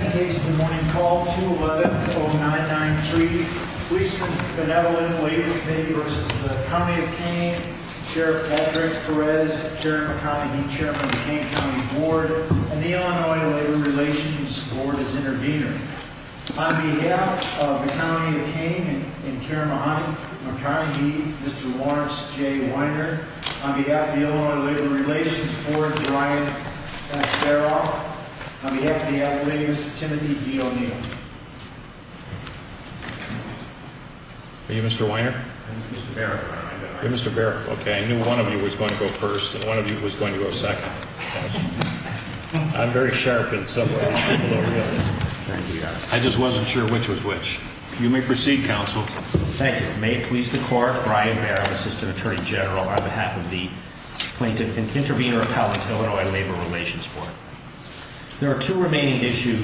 Case of the Morning Call 2-11-0993 Policemen's Benevolent Labor Committee v. County of Kane Sheriff Patrick Perez, Karen McConaughey, Chairman of the Kane County Board, and the Illinois Labor Relations Board as intervenors. On behalf of the County of Kane and Karen McConaughey, Mr. Lawrence J. Weiner, on behalf of the Illinois Labor Relations Board, Sheriff Brian Barrow, on behalf of the Illinois Labor Relations Board, Mr. Timothy D. O'Neill. Are you Mr. Weiner? I'm Mr. Barrow. You're Mr. Barrow. Okay, I knew one of you was going to go first and one of you was going to go second. I'm very sharp in some ways. I just wasn't sure which was which. You may proceed, Counsel. Thank you. May it please the Court, Brian Barrow, Assistant Attorney General, on behalf of the Plaintiff and Intervenor Appellant, Illinois Labor Relations Board. There are two remaining issues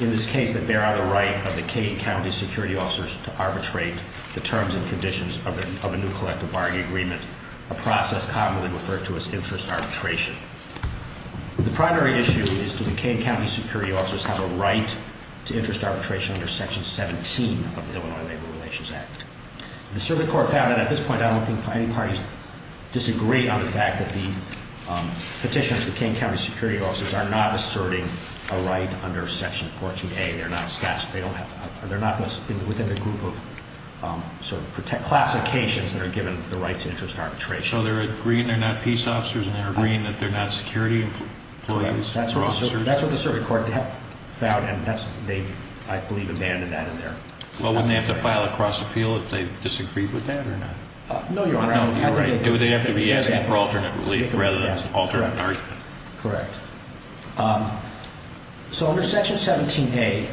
in this case that bear on the right of the Kane County Security Officers to arbitrate the terms and conditions of a new collective bargaining agreement, a process commonly referred to as interest arbitration. The primary issue is do the Kane County Security Officers have a right to interest arbitration under Section 17 of the Illinois Labor Relations Act? The Circuit Court found, and at this point I don't think any parties disagree on the fact that the petitioners, the Kane County Security Officers, are not asserting a right under Section 14A. They're not within the group of sort of classifications that are given the right to interest arbitration. So they're agreeing they're not peace officers and they're agreeing that they're not security employees? That's what the Circuit Court found and they've, I believe, abandoned that in there. Well, wouldn't they have to file a cross-appeal if they disagreed with that or not? No, you're right. Do they have to be asking for alternate relief rather than alternate argument? Correct. So under Section 17A,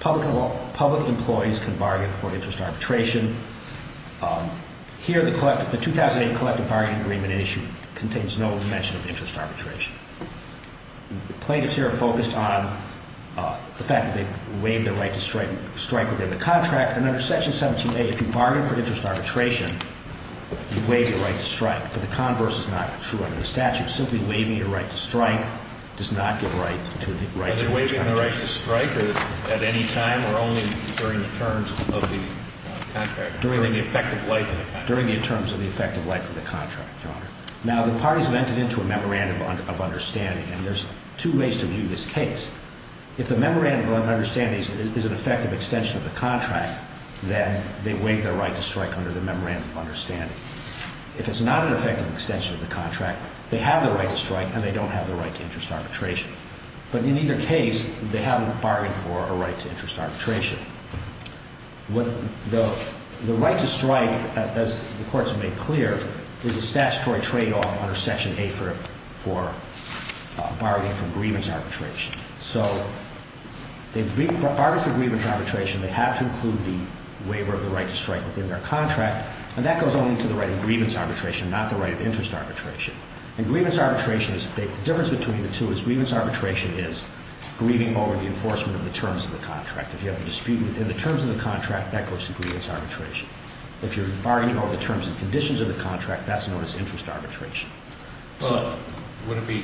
public employees can bargain for interest arbitration. Here, the 2008 collective bargaining agreement issue contains no mention of interest arbitration. Plaintiffs here are focused on the fact that they waive their right to strike within the contract. And under Section 17A, if you bargain for interest arbitration, you waive your right to strike. But the converse is not true under the statute. Simply waiving your right to strike does not give right to interest arbitration. Are they waiving their right to strike at any time or only during the terms of the contract? During the effective life of the contract. During the terms of the effective life of the contract, Your Honor. Now, the parties have entered into a memorandum of understanding, and there's two ways to view this case. If the memorandum of understanding is an effective extension of the contract, then they waive their right to strike under the memorandum of understanding. If it's not an effective extension of the contract, they have the right to strike and they don't have the right to interest arbitration. But in either case, they haven't bargained for a right to interest arbitration. The right to strike, as the Court has made clear, is a statutory tradeoff under Section A for bargaining for grievance arbitration. So, they've bargained for grievance arbitration. They have to include the waiver of the right to strike within their contract. And that goes only to the right of grievance arbitration, not the right of interest arbitration. And grievance arbitration, the difference between the two is grievance arbitration is grievinging over the enforcement of the terms of the contract. If you have a dispute within the terms of the contract, that goes to grievance arbitration. If you're bargaining over the terms and conditions of the contract, that's known as interest arbitration. Well, would it be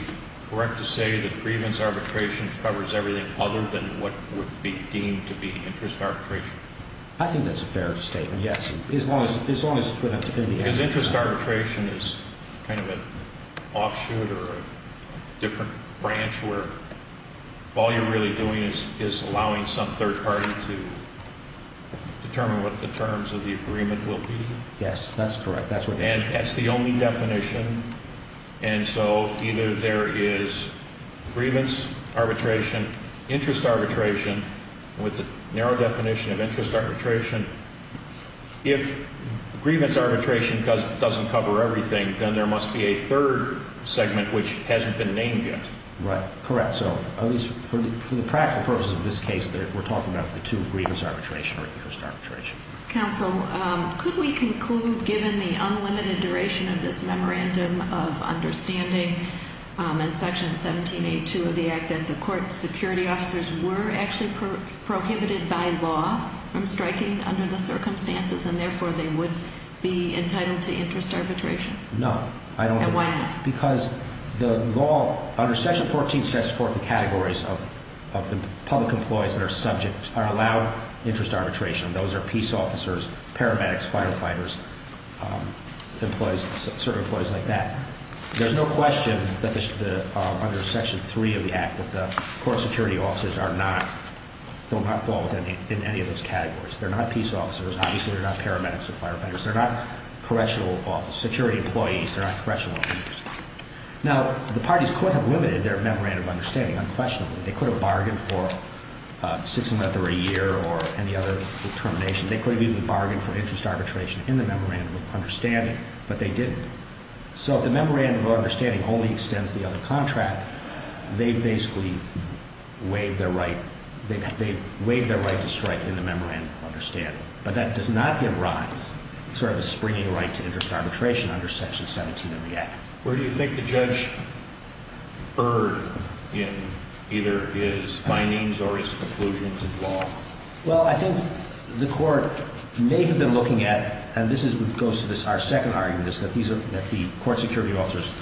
correct to say that grievance arbitration covers everything other than what would be deemed to be interest arbitration? I think that's a fair statement, yes. As long as it's going to be… Because interest arbitration is kind of an offshoot or a different branch where all you're really doing is allowing some third party to determine what the terms of the agreement will be. Yes, that's correct. And that's the only definition. And so, either there is grievance arbitration, interest arbitration, with the narrow definition of interest arbitration. If grievance arbitration doesn't cover everything, then there must be a third segment which hasn't been named yet. Right. Correct. So, at least for the practical purposes of this case, we're talking about the two, grievance arbitration or interest arbitration. Counsel, could we conclude, given the unlimited duration of this memorandum of understanding and Section 1782 of the Act, that the court security officers were actually prohibited by law from striking under the circumstances, and therefore they would be entitled to interest arbitration? No, I don't think so. And why not? Because the law, under Section 14, sets forth the categories of the public employees that are subject, are allowed interest arbitration. Those are peace officers, paramedics, firefighters, employees, certain employees like that. There's no question that under Section 3 of the Act that the court security officers are not, will not fall within any of those categories. They're not peace officers. Obviously, they're not paramedics or firefighters. They're not correctional officers, security employees. They're not correctional officers. Now, the parties could have limited their memorandum of understanding unquestionably. They could have bargained for six months or a year or any other termination. They could have even bargained for interest arbitration in the memorandum of understanding, but they didn't. So if the memorandum of understanding only extends the other contract, they've basically waived their right to strike in the memorandum of understanding. But that does not give rise to sort of a springing right to interest arbitration under Section 17 of the Act. Where do you think the judge erred in either his findings or his conclusions of law? Well, I think the court may have been looking at, and this goes to our second argument, that the court security officers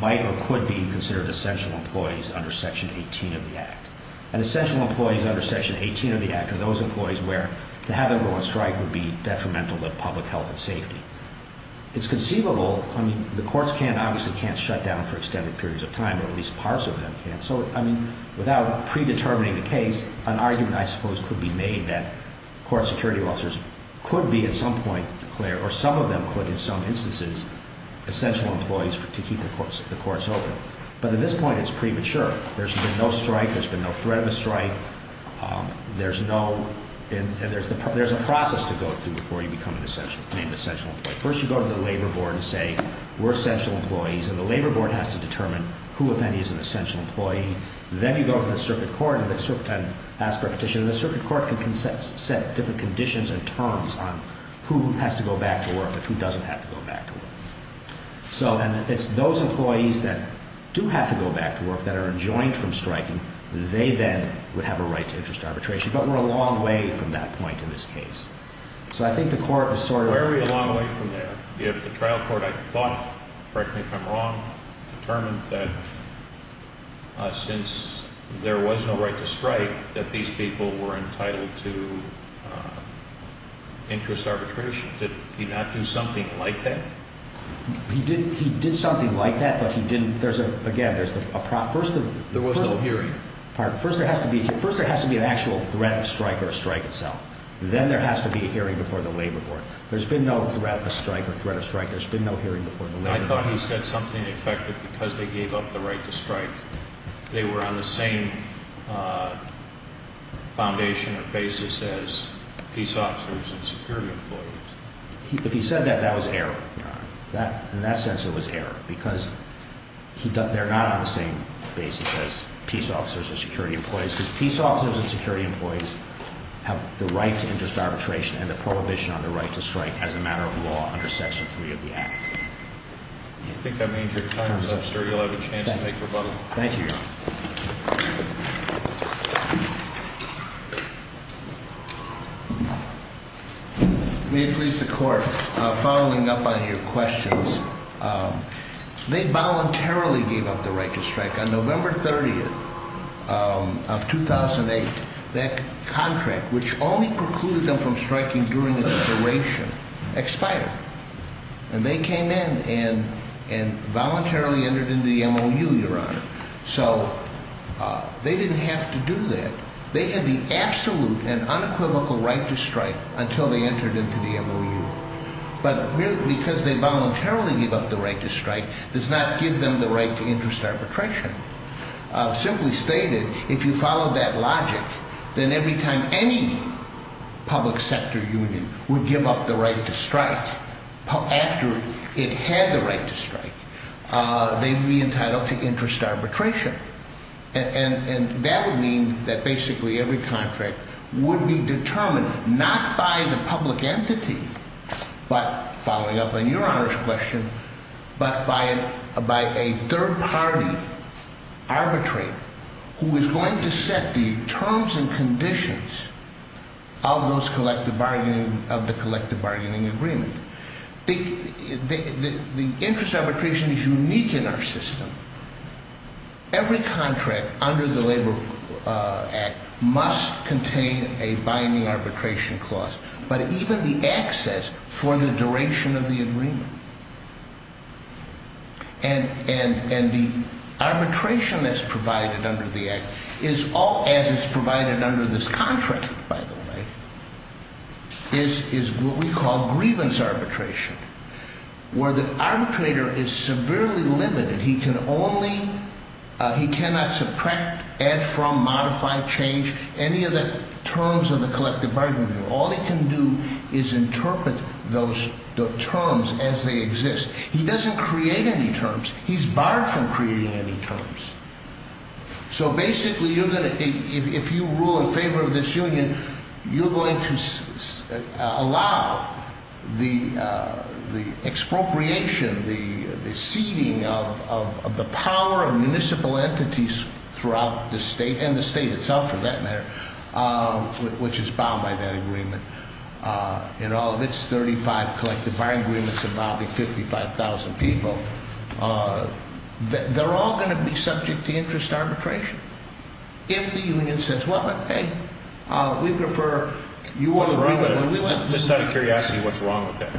might or could be considered essential employees under Section 18 of the Act. And essential employees under Section 18 of the Act are those employees where to have them go on strike would be detrimental to public health and safety. It's conceivable, I mean, the courts obviously can't shut down for extended periods of time, or at least parts of them can't. So, I mean, without predetermining the case, an argument, I suppose, could be made that court security officers could be at some point declared, or some of them could in some instances, essential employees to keep the courts open. But at this point, it's premature. There's been no strike. There's been no threat of a strike. There's a process to go through before you become an essential employee. First, you go to the labor board and say, we're essential employees. And the labor board has to determine who, if any, is an essential employee. Then you go to the circuit court and ask for a petition. And the circuit court can set different conditions and terms on who has to go back to work and who doesn't have to go back to work. And it's those employees that do have to go back to work that are enjoined from striking. They then would have a right to interest arbitration. But we're a long way from that point in this case. So I think the court was sort of... We're a long way from there. If the trial court, I thought, correct me if I'm wrong, determined that since there was no right to strike, that these people were entitled to interest arbitration, did he not do something like that? He did something like that, but he didn't. There's a, again, there's a problem. There was no hearing. First, there has to be an actual threat of strike or a strike itself. Then there has to be a hearing before the labor court. There's been no threat of strike or threat of strike. There's been no hearing before the labor court. I thought he said something to the effect that because they gave up the right to strike, they were on the same foundation or basis as peace officers and security employees. If he said that, that was error. In that sense, it was error because they're not on the same basis as peace officers or security employees. They're not on the same basis as peace officers and security employees have the right to interest arbitration and the prohibition on the right to strike as a matter of law under Section 3 of the Act. I think that means your time is up, sir. You'll have a chance to take rebuttal. Thank you, Your Honor. May it please the Court, following up on your questions, they voluntarily gave up the right to strike. On November 30th of 2008, that contract, which only precluded them from striking during its duration, expired. And they came in and voluntarily entered into the MOU, Your Honor. So they didn't have to do that. They had the absolute and unequivocal right to strike until they entered into the MOU. But because they voluntarily gave up the right to strike does not give them the right to interest arbitration. Simply stated, if you follow that logic, then every time any public sector union would give up the right to strike after it had the right to strike, they would be entitled to interest arbitration. And that would mean that basically every contract would be determined not by the public entity, but following up on Your Honor's question, but by a third party arbitrate who is going to set the terms and conditions of the collective bargaining agreement. The interest arbitration is unique in our system. Every contract under the Labor Act must contain a binding arbitration clause, but even the access for the duration of the agreement. And the arbitration that's provided under the Act, as is provided under this contract, by the way, is what we call grievance arbitration. Where the arbitrator is severely limited. He cannot subtract, add from, modify, change any of the terms of the collective bargaining agreement. All he can do is interpret those terms as they exist. He doesn't create any terms. He's barred from creating any terms. So basically, if you rule in favor of this union, you're going to allow the expropriation, the ceding of the power of municipal entities throughout the state, and the state itself for that matter, which is bound by that agreement. In all of its 35 collective bargaining agreements amounting to 55,000 people. They're all going to be subject to interest arbitration. If the union says, well, hey, we prefer, you want to... Just out of curiosity, what's wrong with that?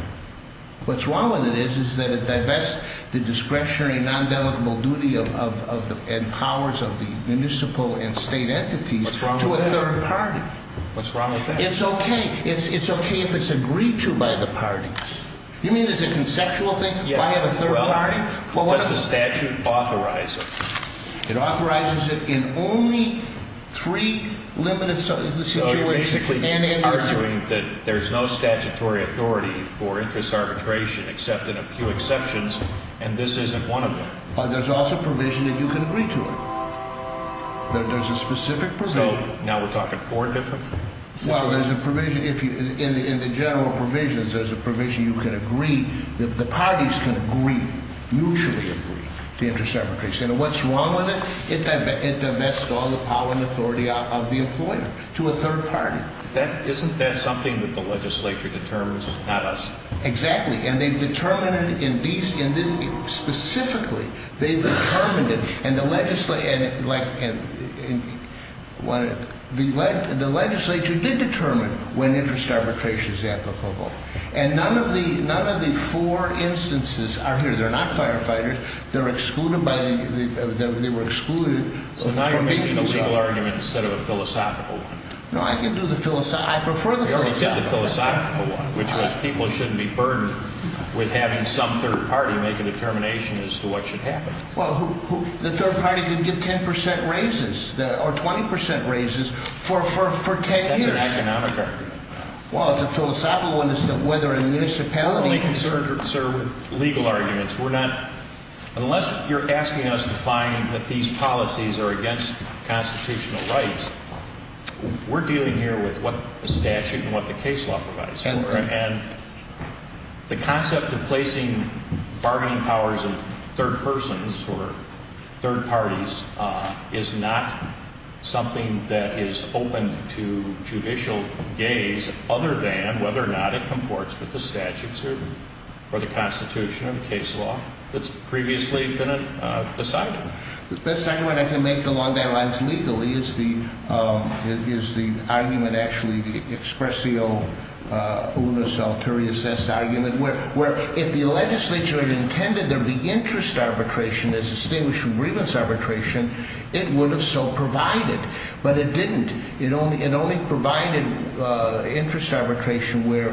What's wrong with it is that it divests the discretionary, non-dedicable duty and powers of the municipal and state entities to a third party. What's wrong with that? It's okay. It's okay if it's agreed to by the parties. You mean it's a conceptual thing? Why have a third party? Does the statute authorize it? It authorizes it in only three limited situations. So you're basically arguing that there's no statutory authority for interest arbitration, except in a few exceptions, and this isn't one of them. But there's also provision that you can agree to it. There's a specific provision. So now we're talking four different situations? Well, there's a provision in the general provisions. There's a provision you can agree. The parties can agree, mutually agree, to interest arbitration. And what's wrong with it? It divests all the power and authority of the employer to a third party. Isn't that something that the legislature determines, not us? Exactly. Specifically, they've determined it. And the legislature did determine when interest arbitration is applicable. And none of the four instances are here. They're not firefighters. They were excluded. So now you're making a legal argument instead of a philosophical one. No, I prefer the philosophical one. Which was people shouldn't be burdened with having some third party make a determination as to what should happen. Well, the third party could get 10% raises or 20% raises for 10 years. That's an economic argument. Well, it's a philosophical one as to whether a municipality can serve. I'm only concerned, sir, with legal arguments. Unless you're asking us to find that these policies are against constitutional rights, we're dealing here with what the statute and what the case law provides. And the concept of placing bargaining powers of third persons or third parties is not something that is open to judicial gaze, other than whether or not it comports with the statutes or the constitution or the case law that's previously been decided. The best argument I can make along that line legally is the argument, actually, the expressio unus alterius es argument, where if the legislature intended there to be interest arbitration as distinguished from grievance arbitration, it would have so provided. But it didn't. It only provided interest arbitration where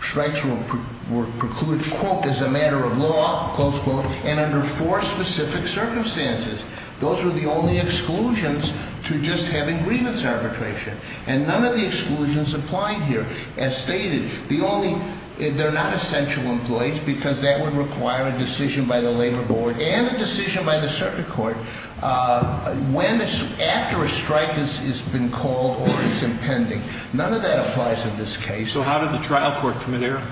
strikes were precluded, quote, as a matter of law, close quote, and under four specific circumstances. Those were the only exclusions to just having grievance arbitration. And none of the exclusions applied here. They're not essential employees because that would require a decision by the labor board and a decision by the circuit court after a strike has been called or is impending. None of that applies in this case. So how did the trial court commit error?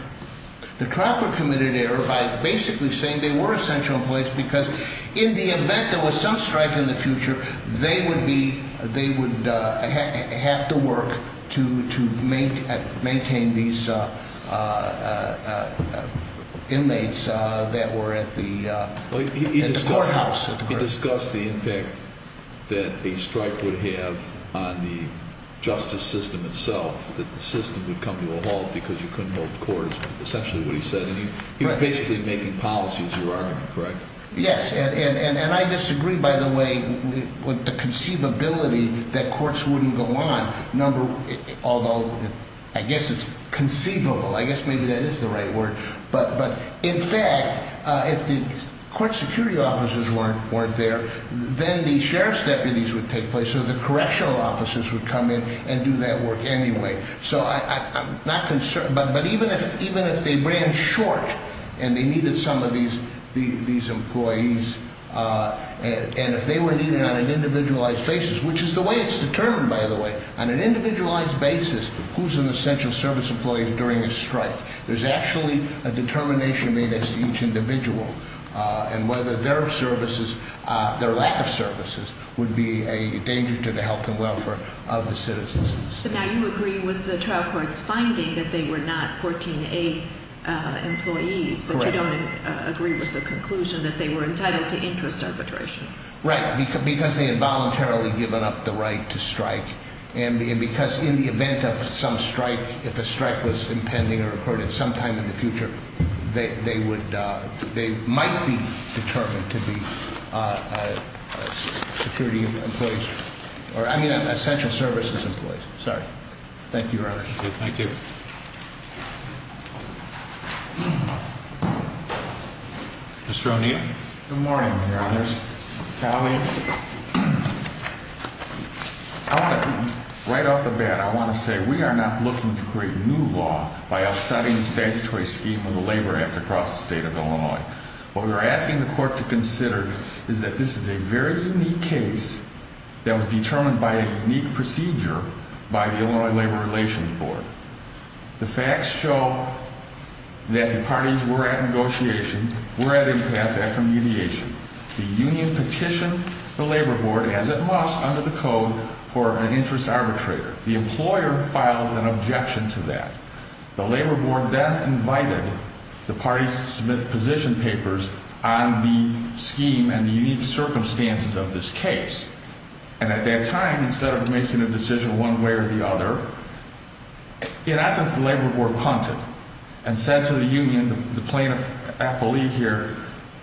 The trial court committed error by basically saying they were essential employees because in the event there was some strike in the future, they would have to work to maintain these inmates that were at the courthouse. He discussed the impact that a strike would have on the justice system itself, that the system would come to a halt because you couldn't hold the court is essentially what he said. And he was basically making policy as your argument, correct? Yes. And I disagree, by the way, with the conceivability that courts wouldn't go on, although I guess it's conceivable. I guess maybe that is the right word. But in fact, if the court security officers weren't there, then the sheriff's deputies would take place. So the correctional officers would come in and do that work anyway. So I'm not concerned. But even if they ran short and they needed some of these employees, and if they were needed on an individualized basis, which is the way it's determined, by the way, on an individualized basis, who's an essential service employee during a strike? There's actually a determination made as to each individual and whether their services, their lack of services, would be a danger to the health and welfare of the citizens. But now you agree with the trial court's finding that they were not 14A employees. Correct. But you don't agree with the conclusion that they were entitled to interest arbitration. Right, because they had voluntarily given up the right to strike. And because in the event of some strike, if a strike was impending or occurred at some time in the future, they might be determined to be security employees, or I mean essential services employees. Thank you, Your Honor. Thank you. Mr. O'Neill. Good morning, Your Honors. Colleagues, right off the bat, I want to say we are not looking to create new law by upsetting the statutory scheme of the labor act across the state of Illinois. What we are asking the court to consider is that this is a very unique case that was determined by a unique procedure by the Illinois Labor Relations Board. The facts show that the parties were at negotiation, were at impasse after mediation. The union petitioned the labor board as it must under the code for an interest arbitrator. The employer filed an objection to that. The labor board then invited the parties to submit position papers on the scheme and the unique circumstances of this case. And at that time, instead of making a decision one way or the other, in essence, the labor board punted and said to the union, the plaintiff's affiliate here,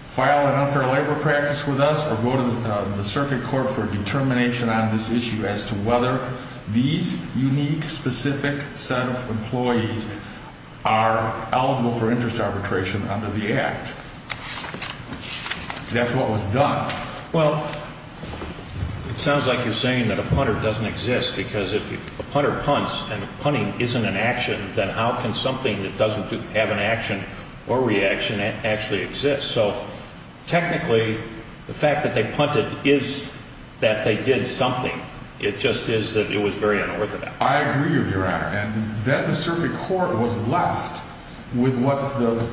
file an unfair labor practice with us or go to the circuit court for a determination on this issue as to whether these unique, specific set of employees are eligible for interest arbitration under the act. That's what was done. Well, it sounds like you're saying that a punter doesn't exist because if a punter punts and the punting isn't an action, then how can something that doesn't have an action or reaction actually exist? So, technically, the fact that they punted is that they did something. It just is that it was very unorthodox. I agree with you, Your Honor. And then the circuit court was left with what the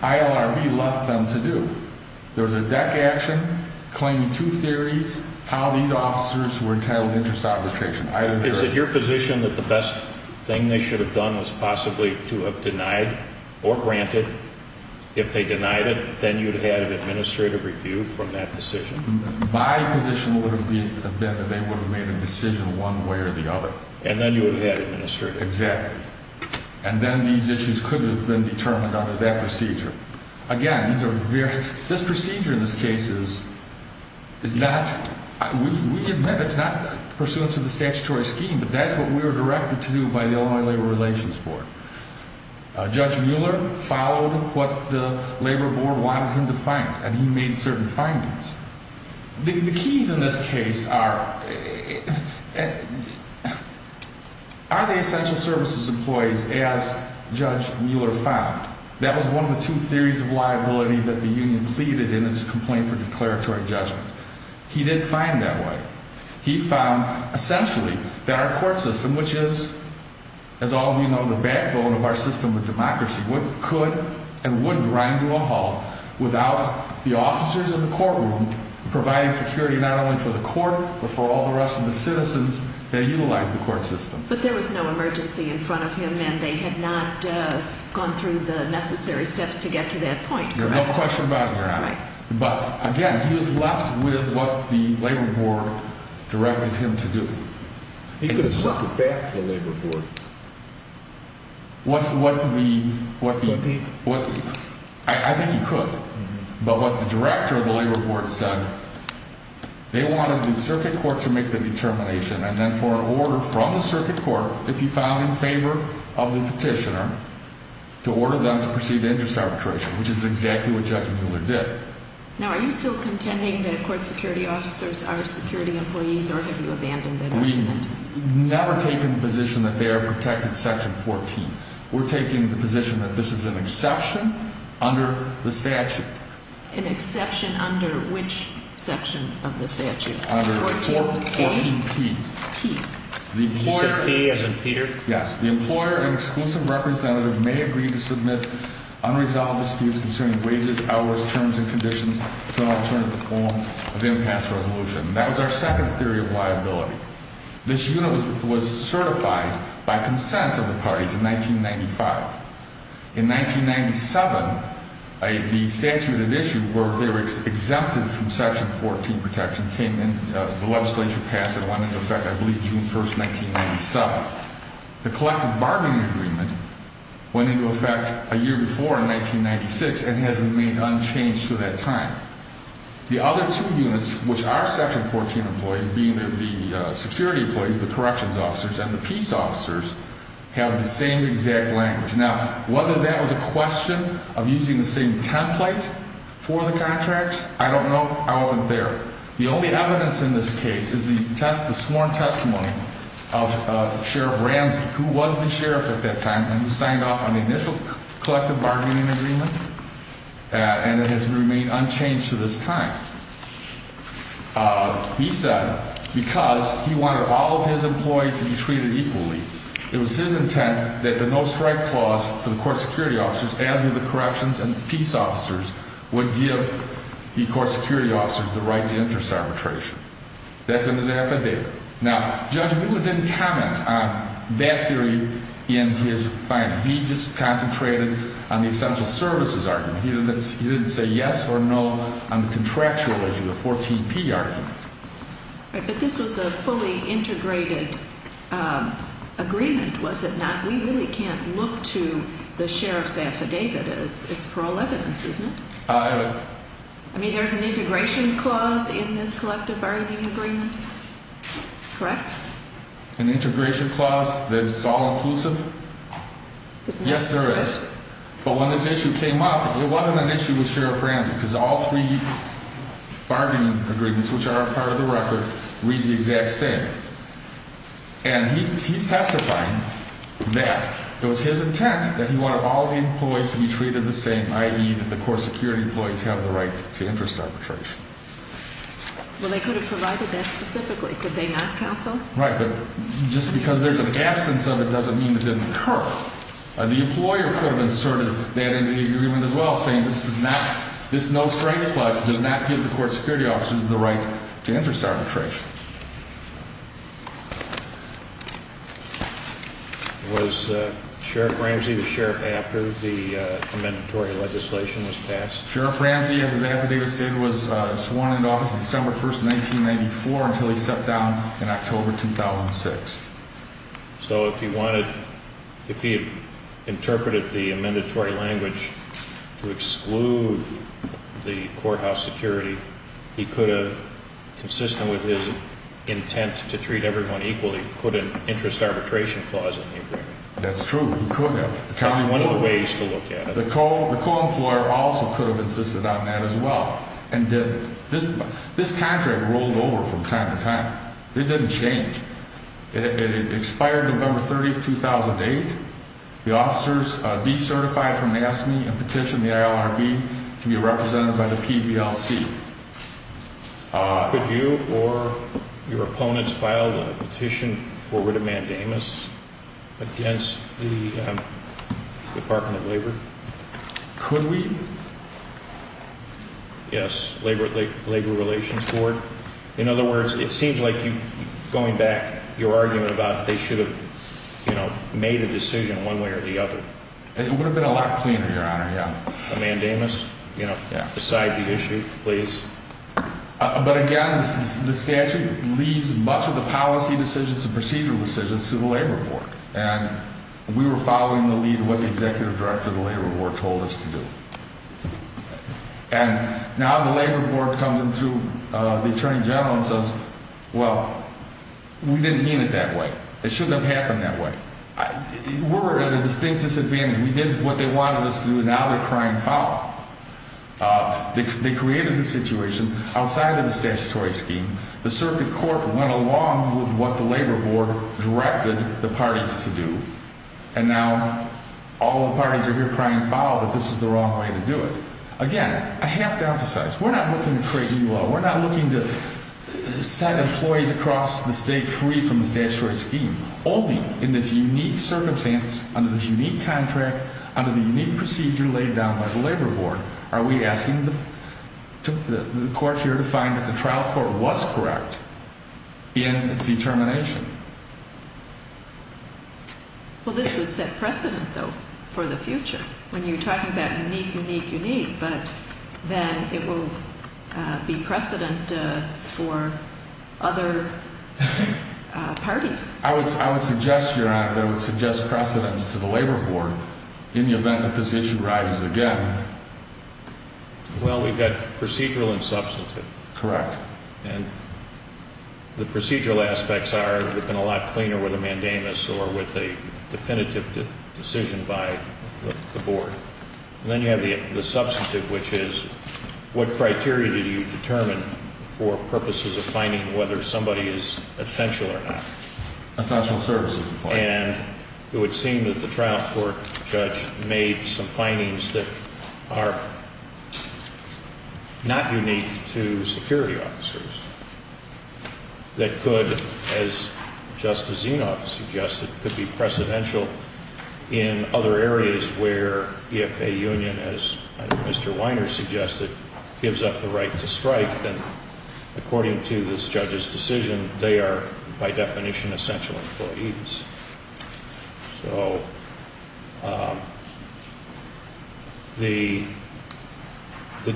ILRB left them to do. There was a deck action claiming two theories, how these officers were entitled to interest arbitration. Is it your position that the best thing they should have done was possibly to have denied or granted? If they denied it, then you'd have had an administrative review from that decision? My position would have been that they would have made a decision one way or the other. And then you would have had administrative. Exactly. And then these issues could have been determined under that procedure. Again, this procedure in this case is not, we admit it's not pursuant to the statutory scheme, but that's what we were directed to do by the Illinois Labor Relations Board. Judge Mueller followed what the Labor Board wanted him to find, and he made certain findings. The keys in this case are, are they essential services employees as Judge Mueller found? That was one of the two theories of liability that the union pleaded in its complaint for declaratory judgment. He did find that way. He found essentially that our court system, which is, as all of you know, the backbone of our system of democracy, could and would grind to a halt without the officers in the courtroom providing security not only for the court, but for all the rest of the citizens that utilize the court system. But there was no emergency in front of him, and they had not gone through the necessary steps to get to that point, correct? But again, he was left with what the Labor Board directed him to do. He could have sucked it back to the Labor Board. What the, what the, I think he could. But what the director of the Labor Board said, they wanted the circuit court to make the determination, and then for an order from the circuit court, if he found in favor of the petitioner, to order them to proceed to interest arbitration, which is exactly what Judge Mueller did. Now, are you still contending that court security officers are security employees, or have you abandoned that argument? We've never taken the position that they are protected, Section 14. We're taking the position that this is an exception under the statute. An exception under which section of the statute? Under 14P. P. You said P as in Peter? Yes. The employer and exclusive representative may agree to submit unresolved disputes concerning wages, hours, terms, and conditions to an alternative form of impasse resolution. That was our second theory of liability. This unit was certified by consent of the parties in 1995. In 1997, the statute of issue where they were exempted from Section 14 protection came in, the legislature passed it, went into effect, I believe, June 1st, 1997. The collective bargaining agreement went into effect a year before, in 1996, and has remained unchanged to that time. The other two units, which are Section 14 employees, being the security employees, the corrections officers, and the peace officers, have the same exact language. Now, whether that was a question of using the same template for the contracts, I don't know. I wasn't there. The only evidence in this case is the sworn testimony of Sheriff Ramsey, who was the sheriff at that time, and who signed off on the initial collective bargaining agreement, and it has remained unchanged to this time. He said, because he wanted all of his employees to be treated equally, it was his intent that the no-strike clause for the court security officers, as were the corrections and peace officers, would give the court security officers the right to interest arbitration. That's in his affidavit. Now, Judge Mueller didn't comment on that theory in his finding. He just concentrated on the essential services argument. He didn't say yes or no on the contractual issue, the 14P argument. But this was a fully integrated agreement, was it not? We really can't look to the sheriff's affidavit. It's parole evidence, isn't it? I mean, there's an integration clause in this collective bargaining agreement, correct? An integration clause that's all-inclusive? Yes, there is. But when this issue came up, it wasn't an issue with Sheriff Randall, because all three bargaining agreements, which are a part of the record, read the exact same. And he's testifying that it was his intent that he wanted all the employees to be treated the same, i.e., that the court security employees have the right to interest arbitration. Well, they could have provided that specifically, could they not, counsel? Right, but just because there's an absence of it doesn't mean it didn't occur. The employer could have inserted that into the agreement as well, saying this no-strength pledge does not give the court security officers the right to interest arbitration. Was Sheriff Ramsey the sheriff after the commendatory legislation was passed? Sheriff Ramsey, as his affidavit stated, was sworn into office December 1, 1994, until he sat down in October 2006. So if he had interpreted the amendatory language to exclude the courthouse security, he could have, consistent with his intent to treat everyone equally, put an interest arbitration clause in the agreement. That's true, he could have. That's one of the ways to look at it. The co-employer also could have insisted on that as well. This contract rolled over from time to time. It didn't change. It expired November 30, 2008. The officers decertified from NASME and petitioned the ILRB to be represented by the PBLC. Could you or your opponents file a petition for writ of mandamus against the Department of Labor? Could we? Yes, Labor Relations Board. In other words, it seems like, going back, your argument about they should have made a decision one way or the other. It would have been a lot cleaner, Your Honor, yeah. A mandamus? Yeah. Beside the issue, please. But again, the statute leaves much of the policy decisions and procedural decisions to the Labor Board. And we were following the lead of what the Executive Director of the Labor Board told us to do. And now the Labor Board comes in through the Attorney General and says, well, we didn't mean it that way. It shouldn't have happened that way. We're at a distinct disadvantage. We did what they wanted us to do. Now they're crying foul. They created the situation outside of the statutory scheme. The Circuit Court went along with what the Labor Board directed the parties to do. And now all the parties are here crying foul that this is the wrong way to do it. Again, I have to emphasize, we're not looking to create new law. We're not looking to set employees across the state free from the statutory scheme. Only in this unique circumstance, under this unique contract, under the unique procedure laid down by the Labor Board, are we asking the court here to find that the trial court was correct in its determination. Well, this would set precedent, though, for the future when you're talking about unique, unique, unique. But then it will be precedent for other parties. I would suggest, Your Honor, that I would suggest precedence to the Labor Board in the event that this issue rises again. Well, we've got procedural and substantive. Correct. And the procedural aspects are looking a lot cleaner with a mandamus or with a definitive decision by the board. And then you have the substantive, which is what criteria do you determine for purposes of finding whether somebody is essential or not? Essential services. And it would seem that the trial court judge made some findings that are not unique to security officers. That could, as Justice Zinoff suggested, could be precedential in other areas where if a union, as Mr. Weiner suggested, gives up the right to strike, then according to this judge's decision, they are, by definition, essential employees. So the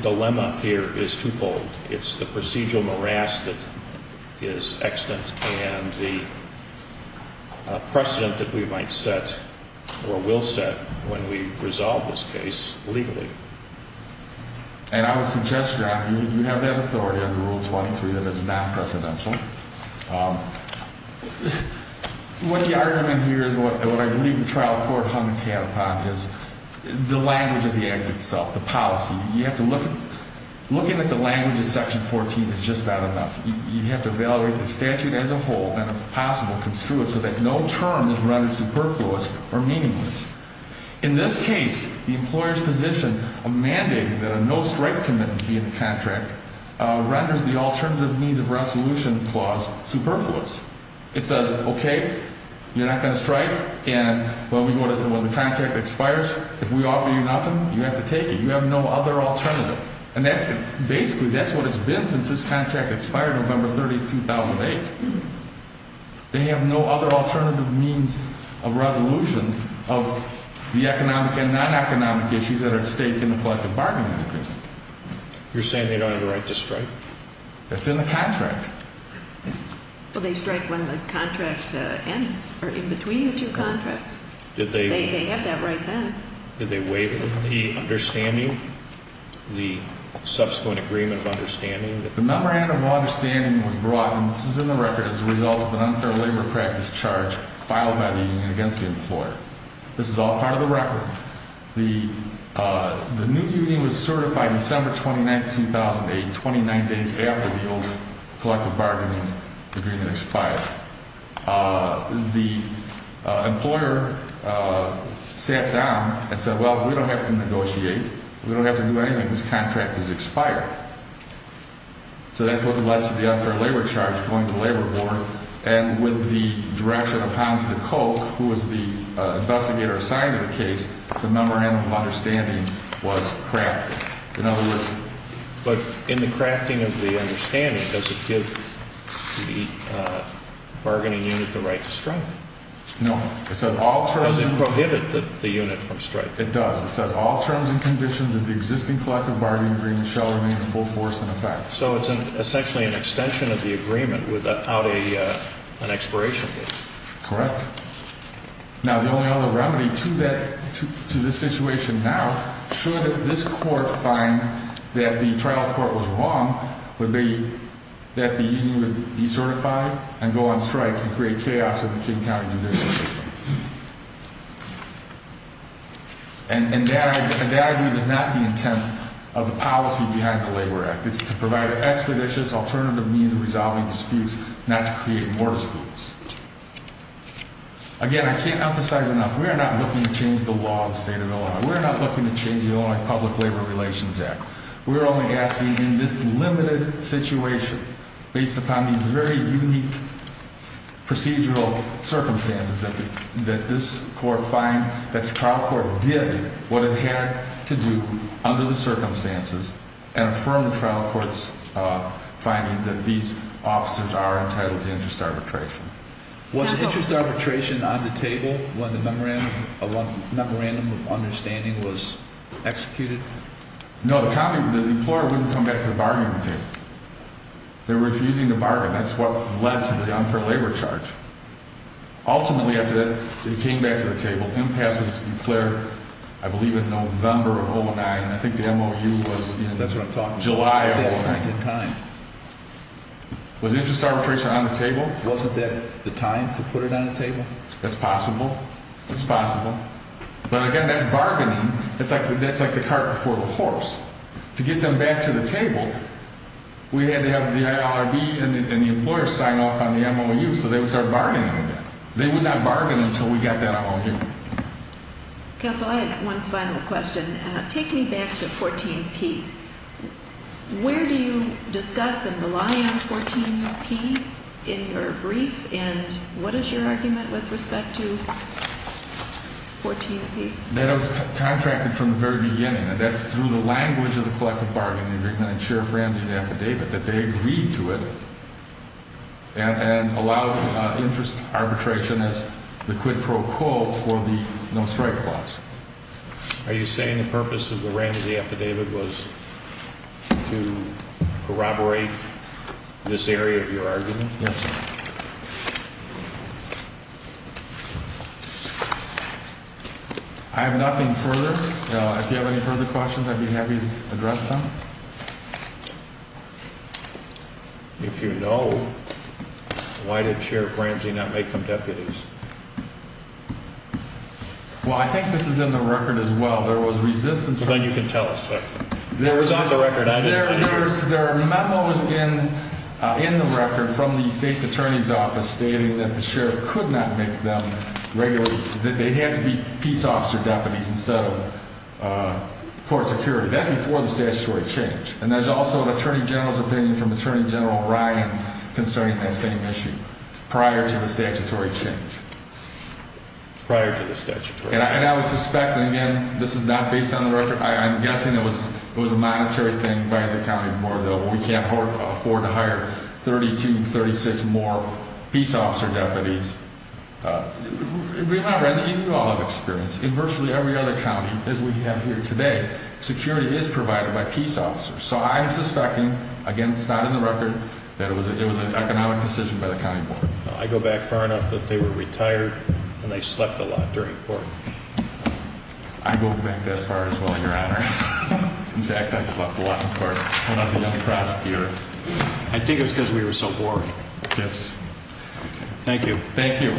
dilemma here is twofold. It's the procedural morass that is extant and the precedent that we might set or will set when we resolve this case legally. And I would suggest, Your Honor, you have that authority under Rule 23 that is not precedential. What the argument here is, what I believe the trial court hung its head upon, is the language of the act itself, the policy. You have to look at, looking at the language of Section 14 is just not enough. You have to evaluate the statute as a whole and, if possible, construe it so that no term is rendered superfluous or meaningless. In this case, the employer's position of mandating that a no-strike commitment be in the contract renders the alternative means of resolution clause superfluous. It says, okay, you're not going to strike, and when the contract expires, if we offer you nothing, you have to take it. You have no other alternative. And basically, that's what it's been since this contract expired November 30, 2008. They have no other alternative means of resolution of the economic and non-economic issues that are at stake in the collective bargaining mechanism. You're saying they don't have the right to strike? It's in the contract. Well, they strike when the contract ends, or in between the two contracts. They have that right then. Did they waive the understanding, the subsequent agreement of understanding? The memorandum of understanding was brought, and this is in the record, as a result of an unfair labor practice charge filed by the union against the employer. This is all part of the record. The new union was certified December 29, 2008, 29 days after the old collective bargaining agreement expired. The employer sat down and said, well, we don't have to negotiate. We don't have to do anything. This contract has expired. So that's what led to the unfair labor charge going to the labor board. And with the direction of Hans De Kolk, who was the investigator assigned to the case, the memorandum of understanding was crafted. In other words – But in the crafting of the understanding, does it give the bargaining unit the right to strike? No. It says all terms – Does it prohibit the unit from strike? It does. It says all terms and conditions of the existing collective bargaining agreement shall remain in full force in effect. So it's essentially an extension of the agreement without an expiration date. Correct. Now, the only other remedy to this situation now, should this court find that the trial court was wrong, would be that the union would decertify and go on strike and create chaos in the King County judicial system. And that, I believe, is not the intent of the policy behind the Labor Act. It's to provide an expeditious alternative means of resolving disputes, not to create more disputes. Again, I can't emphasize enough, we are not looking to change the law of the state of Illinois. We are not looking to change the Illinois Public Labor Relations Act. We are only asking in this limited situation, based upon these very unique procedural circumstances, that this court find that the trial court did what it had to do under the circumstances and affirm the trial court's findings that these officers are entitled to interest arbitration. Was interest arbitration on the table when the memorandum of understanding was executed? No, the employer wouldn't come back to the bargaining table. They were refusing to bargain. That's what led to the unfair labor charge. Ultimately, after it came back to the table, impasse was declared, I believe, in November of 2009. I think the MOU was in July of 2009. Was interest arbitration on the table? Wasn't that the time to put it on the table? That's possible. It's possible. But again, that's bargaining. That's like the cart before the horse. To get them back to the table, we had to have the IRB and the employer sign off on the MOU, so that was our bargaining. They would not bargain until we got that MOU. Counsel, I have one final question. Take me back to 14P. Where do you discuss and rely on 14P in your brief, and what is your argument with respect to 14P? That it was contracted from the very beginning, and that's through the language of the collective bargaining agreement and Sheriff Randy's affidavit, that they agreed to it and allowed interest arbitration as the quid pro quo for the no-strike clause. Are you saying the purpose of Randy's affidavit was to corroborate this area of your argument? Yes, sir. I have nothing further. If you have any further questions, I'd be happy to address them. If you know, why did Sheriff Ramsey not make them deputies? Well, I think this is in the record as well. There was resistance. It's on the record. There are memos in the record from the state's attorney's office stating that the sheriff could not make them regularly. They had to be peace officer deputies instead of court security. That's before the statutory change. And there's also an attorney general's opinion from Attorney General Ryan concerning that same issue prior to the statutory change. Prior to the statutory change. And I would suspect, and again, this is not based on the record. I'm guessing it was a monetary thing by the county board, though. We can't afford to hire 32, 36 more peace officer deputies. You all have experience. In virtually every other county, as we have here today, security is provided by peace officers. So I am suspecting, again, it's not in the record, that it was an economic decision by the county board. I go back far enough that they were retired and they slept a lot during court. I go back that far as well, Your Honor. In fact, I slept a lot in court when I was a young prosecutor. I think it was because we were so bored. Yes. Thank you. Thank you.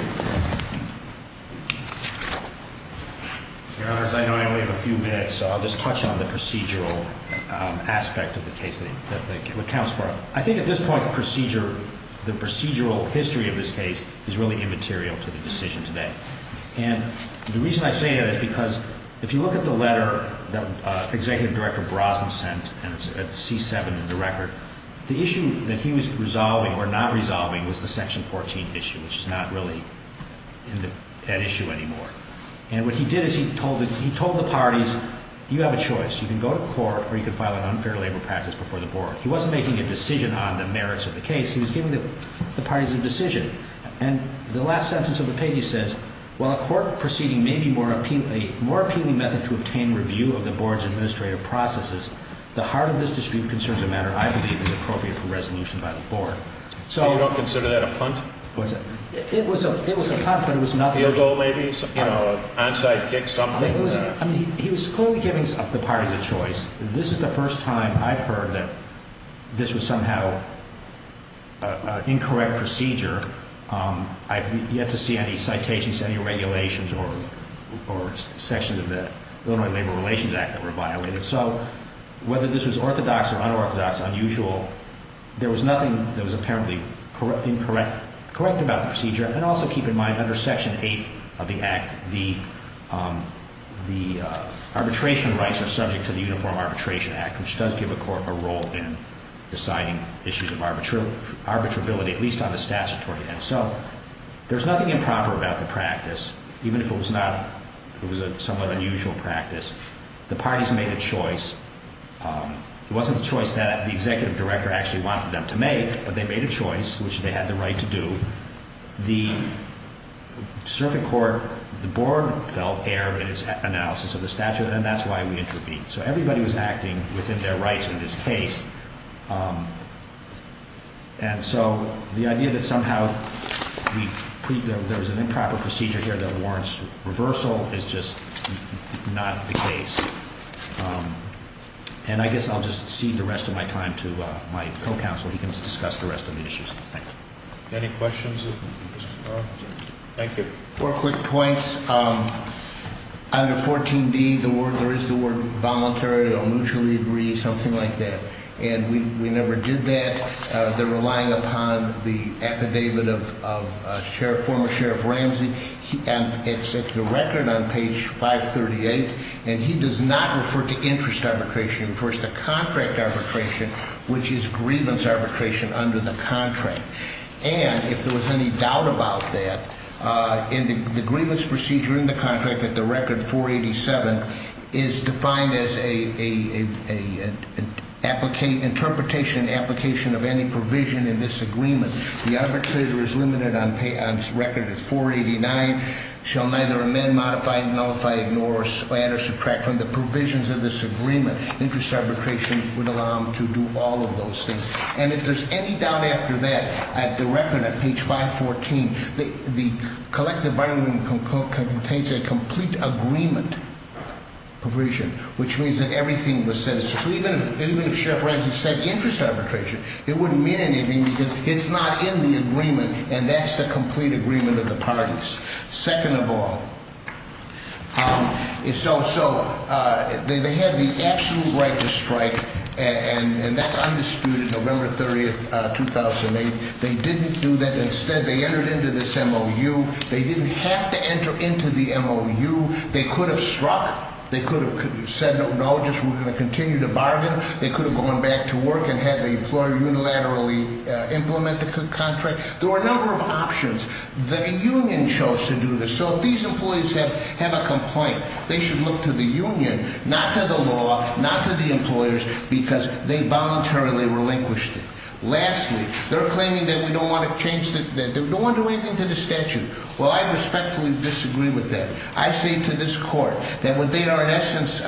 Your Honors, I know I only have a few minutes, so I'll just touch on the procedural aspect of the case that counts for. I think at this point, the procedural history of this case is really immaterial to the decision today. And the reason I say that is because if you look at the letter that Executive Director Brosnan sent at C-7 in the record, the issue that he was resolving or not resolving was the Section 14 issue, which is not really an issue anymore. And what he did is he told the parties, you have a choice. You can go to court or you can file an unfair labor practice before the board. He wasn't making a decision on the merits of the case. He was giving the parties a decision. And the last sentence of the page says, while a court proceeding may be a more appealing method to obtain review of the board's administrative processes, the heart of this dispute concerns a matter I believe is appropriate for resolution by the board. So you don't consider that a punt? It was a punt, but it was nothing. A field goal, maybe? You know, an onside kick, something? He was clearly giving the parties a choice. This is the first time I've heard that this was somehow an incorrect procedure. I've yet to see any citations, any regulations or sections of the Illinois Labor Relations Act that were violated. So whether this was orthodox or unorthodox, unusual, there was nothing that was apparently incorrect about the procedure. And also keep in mind, under Section 8 of the Act, the arbitration rights are subject to the Uniform Arbitration Act, which does give a court a role in deciding issues of arbitrability, at least on the statutory end. So there's nothing improper about the practice, even if it was a somewhat unusual practice. The parties made a choice. It wasn't a choice that the executive director actually wanted them to make, but they made a choice, which they had the right to do. The circuit court, the board, felt error in its analysis of the statute, and that's why we intervened. So everybody was acting within their rights in this case. And so the idea that somehow there was an improper procedure here that warrants reversal is just not the case. And I guess I'll just cede the rest of my time to my co-counsel. He can discuss the rest of the issues. Thank you. Any questions? Thank you. Four quick points. Under 14D, there is the word voluntary or mutually agree, something like that, and we never did that. They're relying upon the affidavit of former Sheriff Ramsey, and it's at your record on page 538, and he does not refer to interest arbitration. He refers to contract arbitration, which is grievance arbitration under the contract. And if there was any doubt about that, the grievance procedure in the contract, at the record 487, is defined as an interpretation and application of any provision in this agreement. The arbitrator is limited on record at 489, shall neither amend, modify, nullify, ignore, or split or subtract from the provisions of this agreement. Interest arbitration would allow him to do all of those things. And if there's any doubt after that, at the record at page 514, the collective bargaining agreement contains a complete agreement provision, which means that everything was set as such. So even if Sheriff Ramsey said interest arbitration, it wouldn't mean anything because it's not in the agreement, and that's the complete agreement of the parties. Second of all, so they had the absolute right to strike, and that's undisputed, November 30th, 2008. They didn't do that. Instead, they entered into this MOU. They didn't have to enter into the MOU. They could have struck. They could have said no, just we're going to continue to bargain. They could have gone back to work and had the employer unilaterally implement the contract. There were a number of options. The union chose to do this. So if these employees have a complaint, they should look to the union, not to the law, not to the employers, because they voluntarily relinquished it. Lastly, they're claiming that we don't want to change the statute. They don't want to do anything to the statute. Well, I respectfully disagree with that. I say to this court that what they are in essence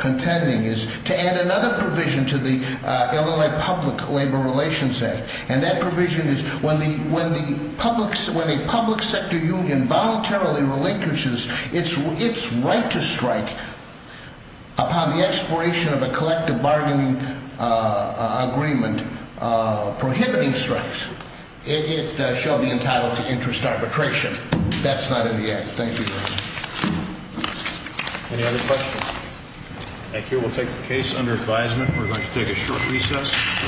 contending is to add another provision to the Illinois Public Labor Relations Act, and that provision is when a public sector union voluntarily relinquishes its right to strike upon the expiration of a collective bargaining agreement prohibiting strikes, it shall be entitled to interest arbitration. That's not in the act. Thank you, Your Honor. Any other questions? Thank you. We'll take the case under advisement. We're going to take a short recess.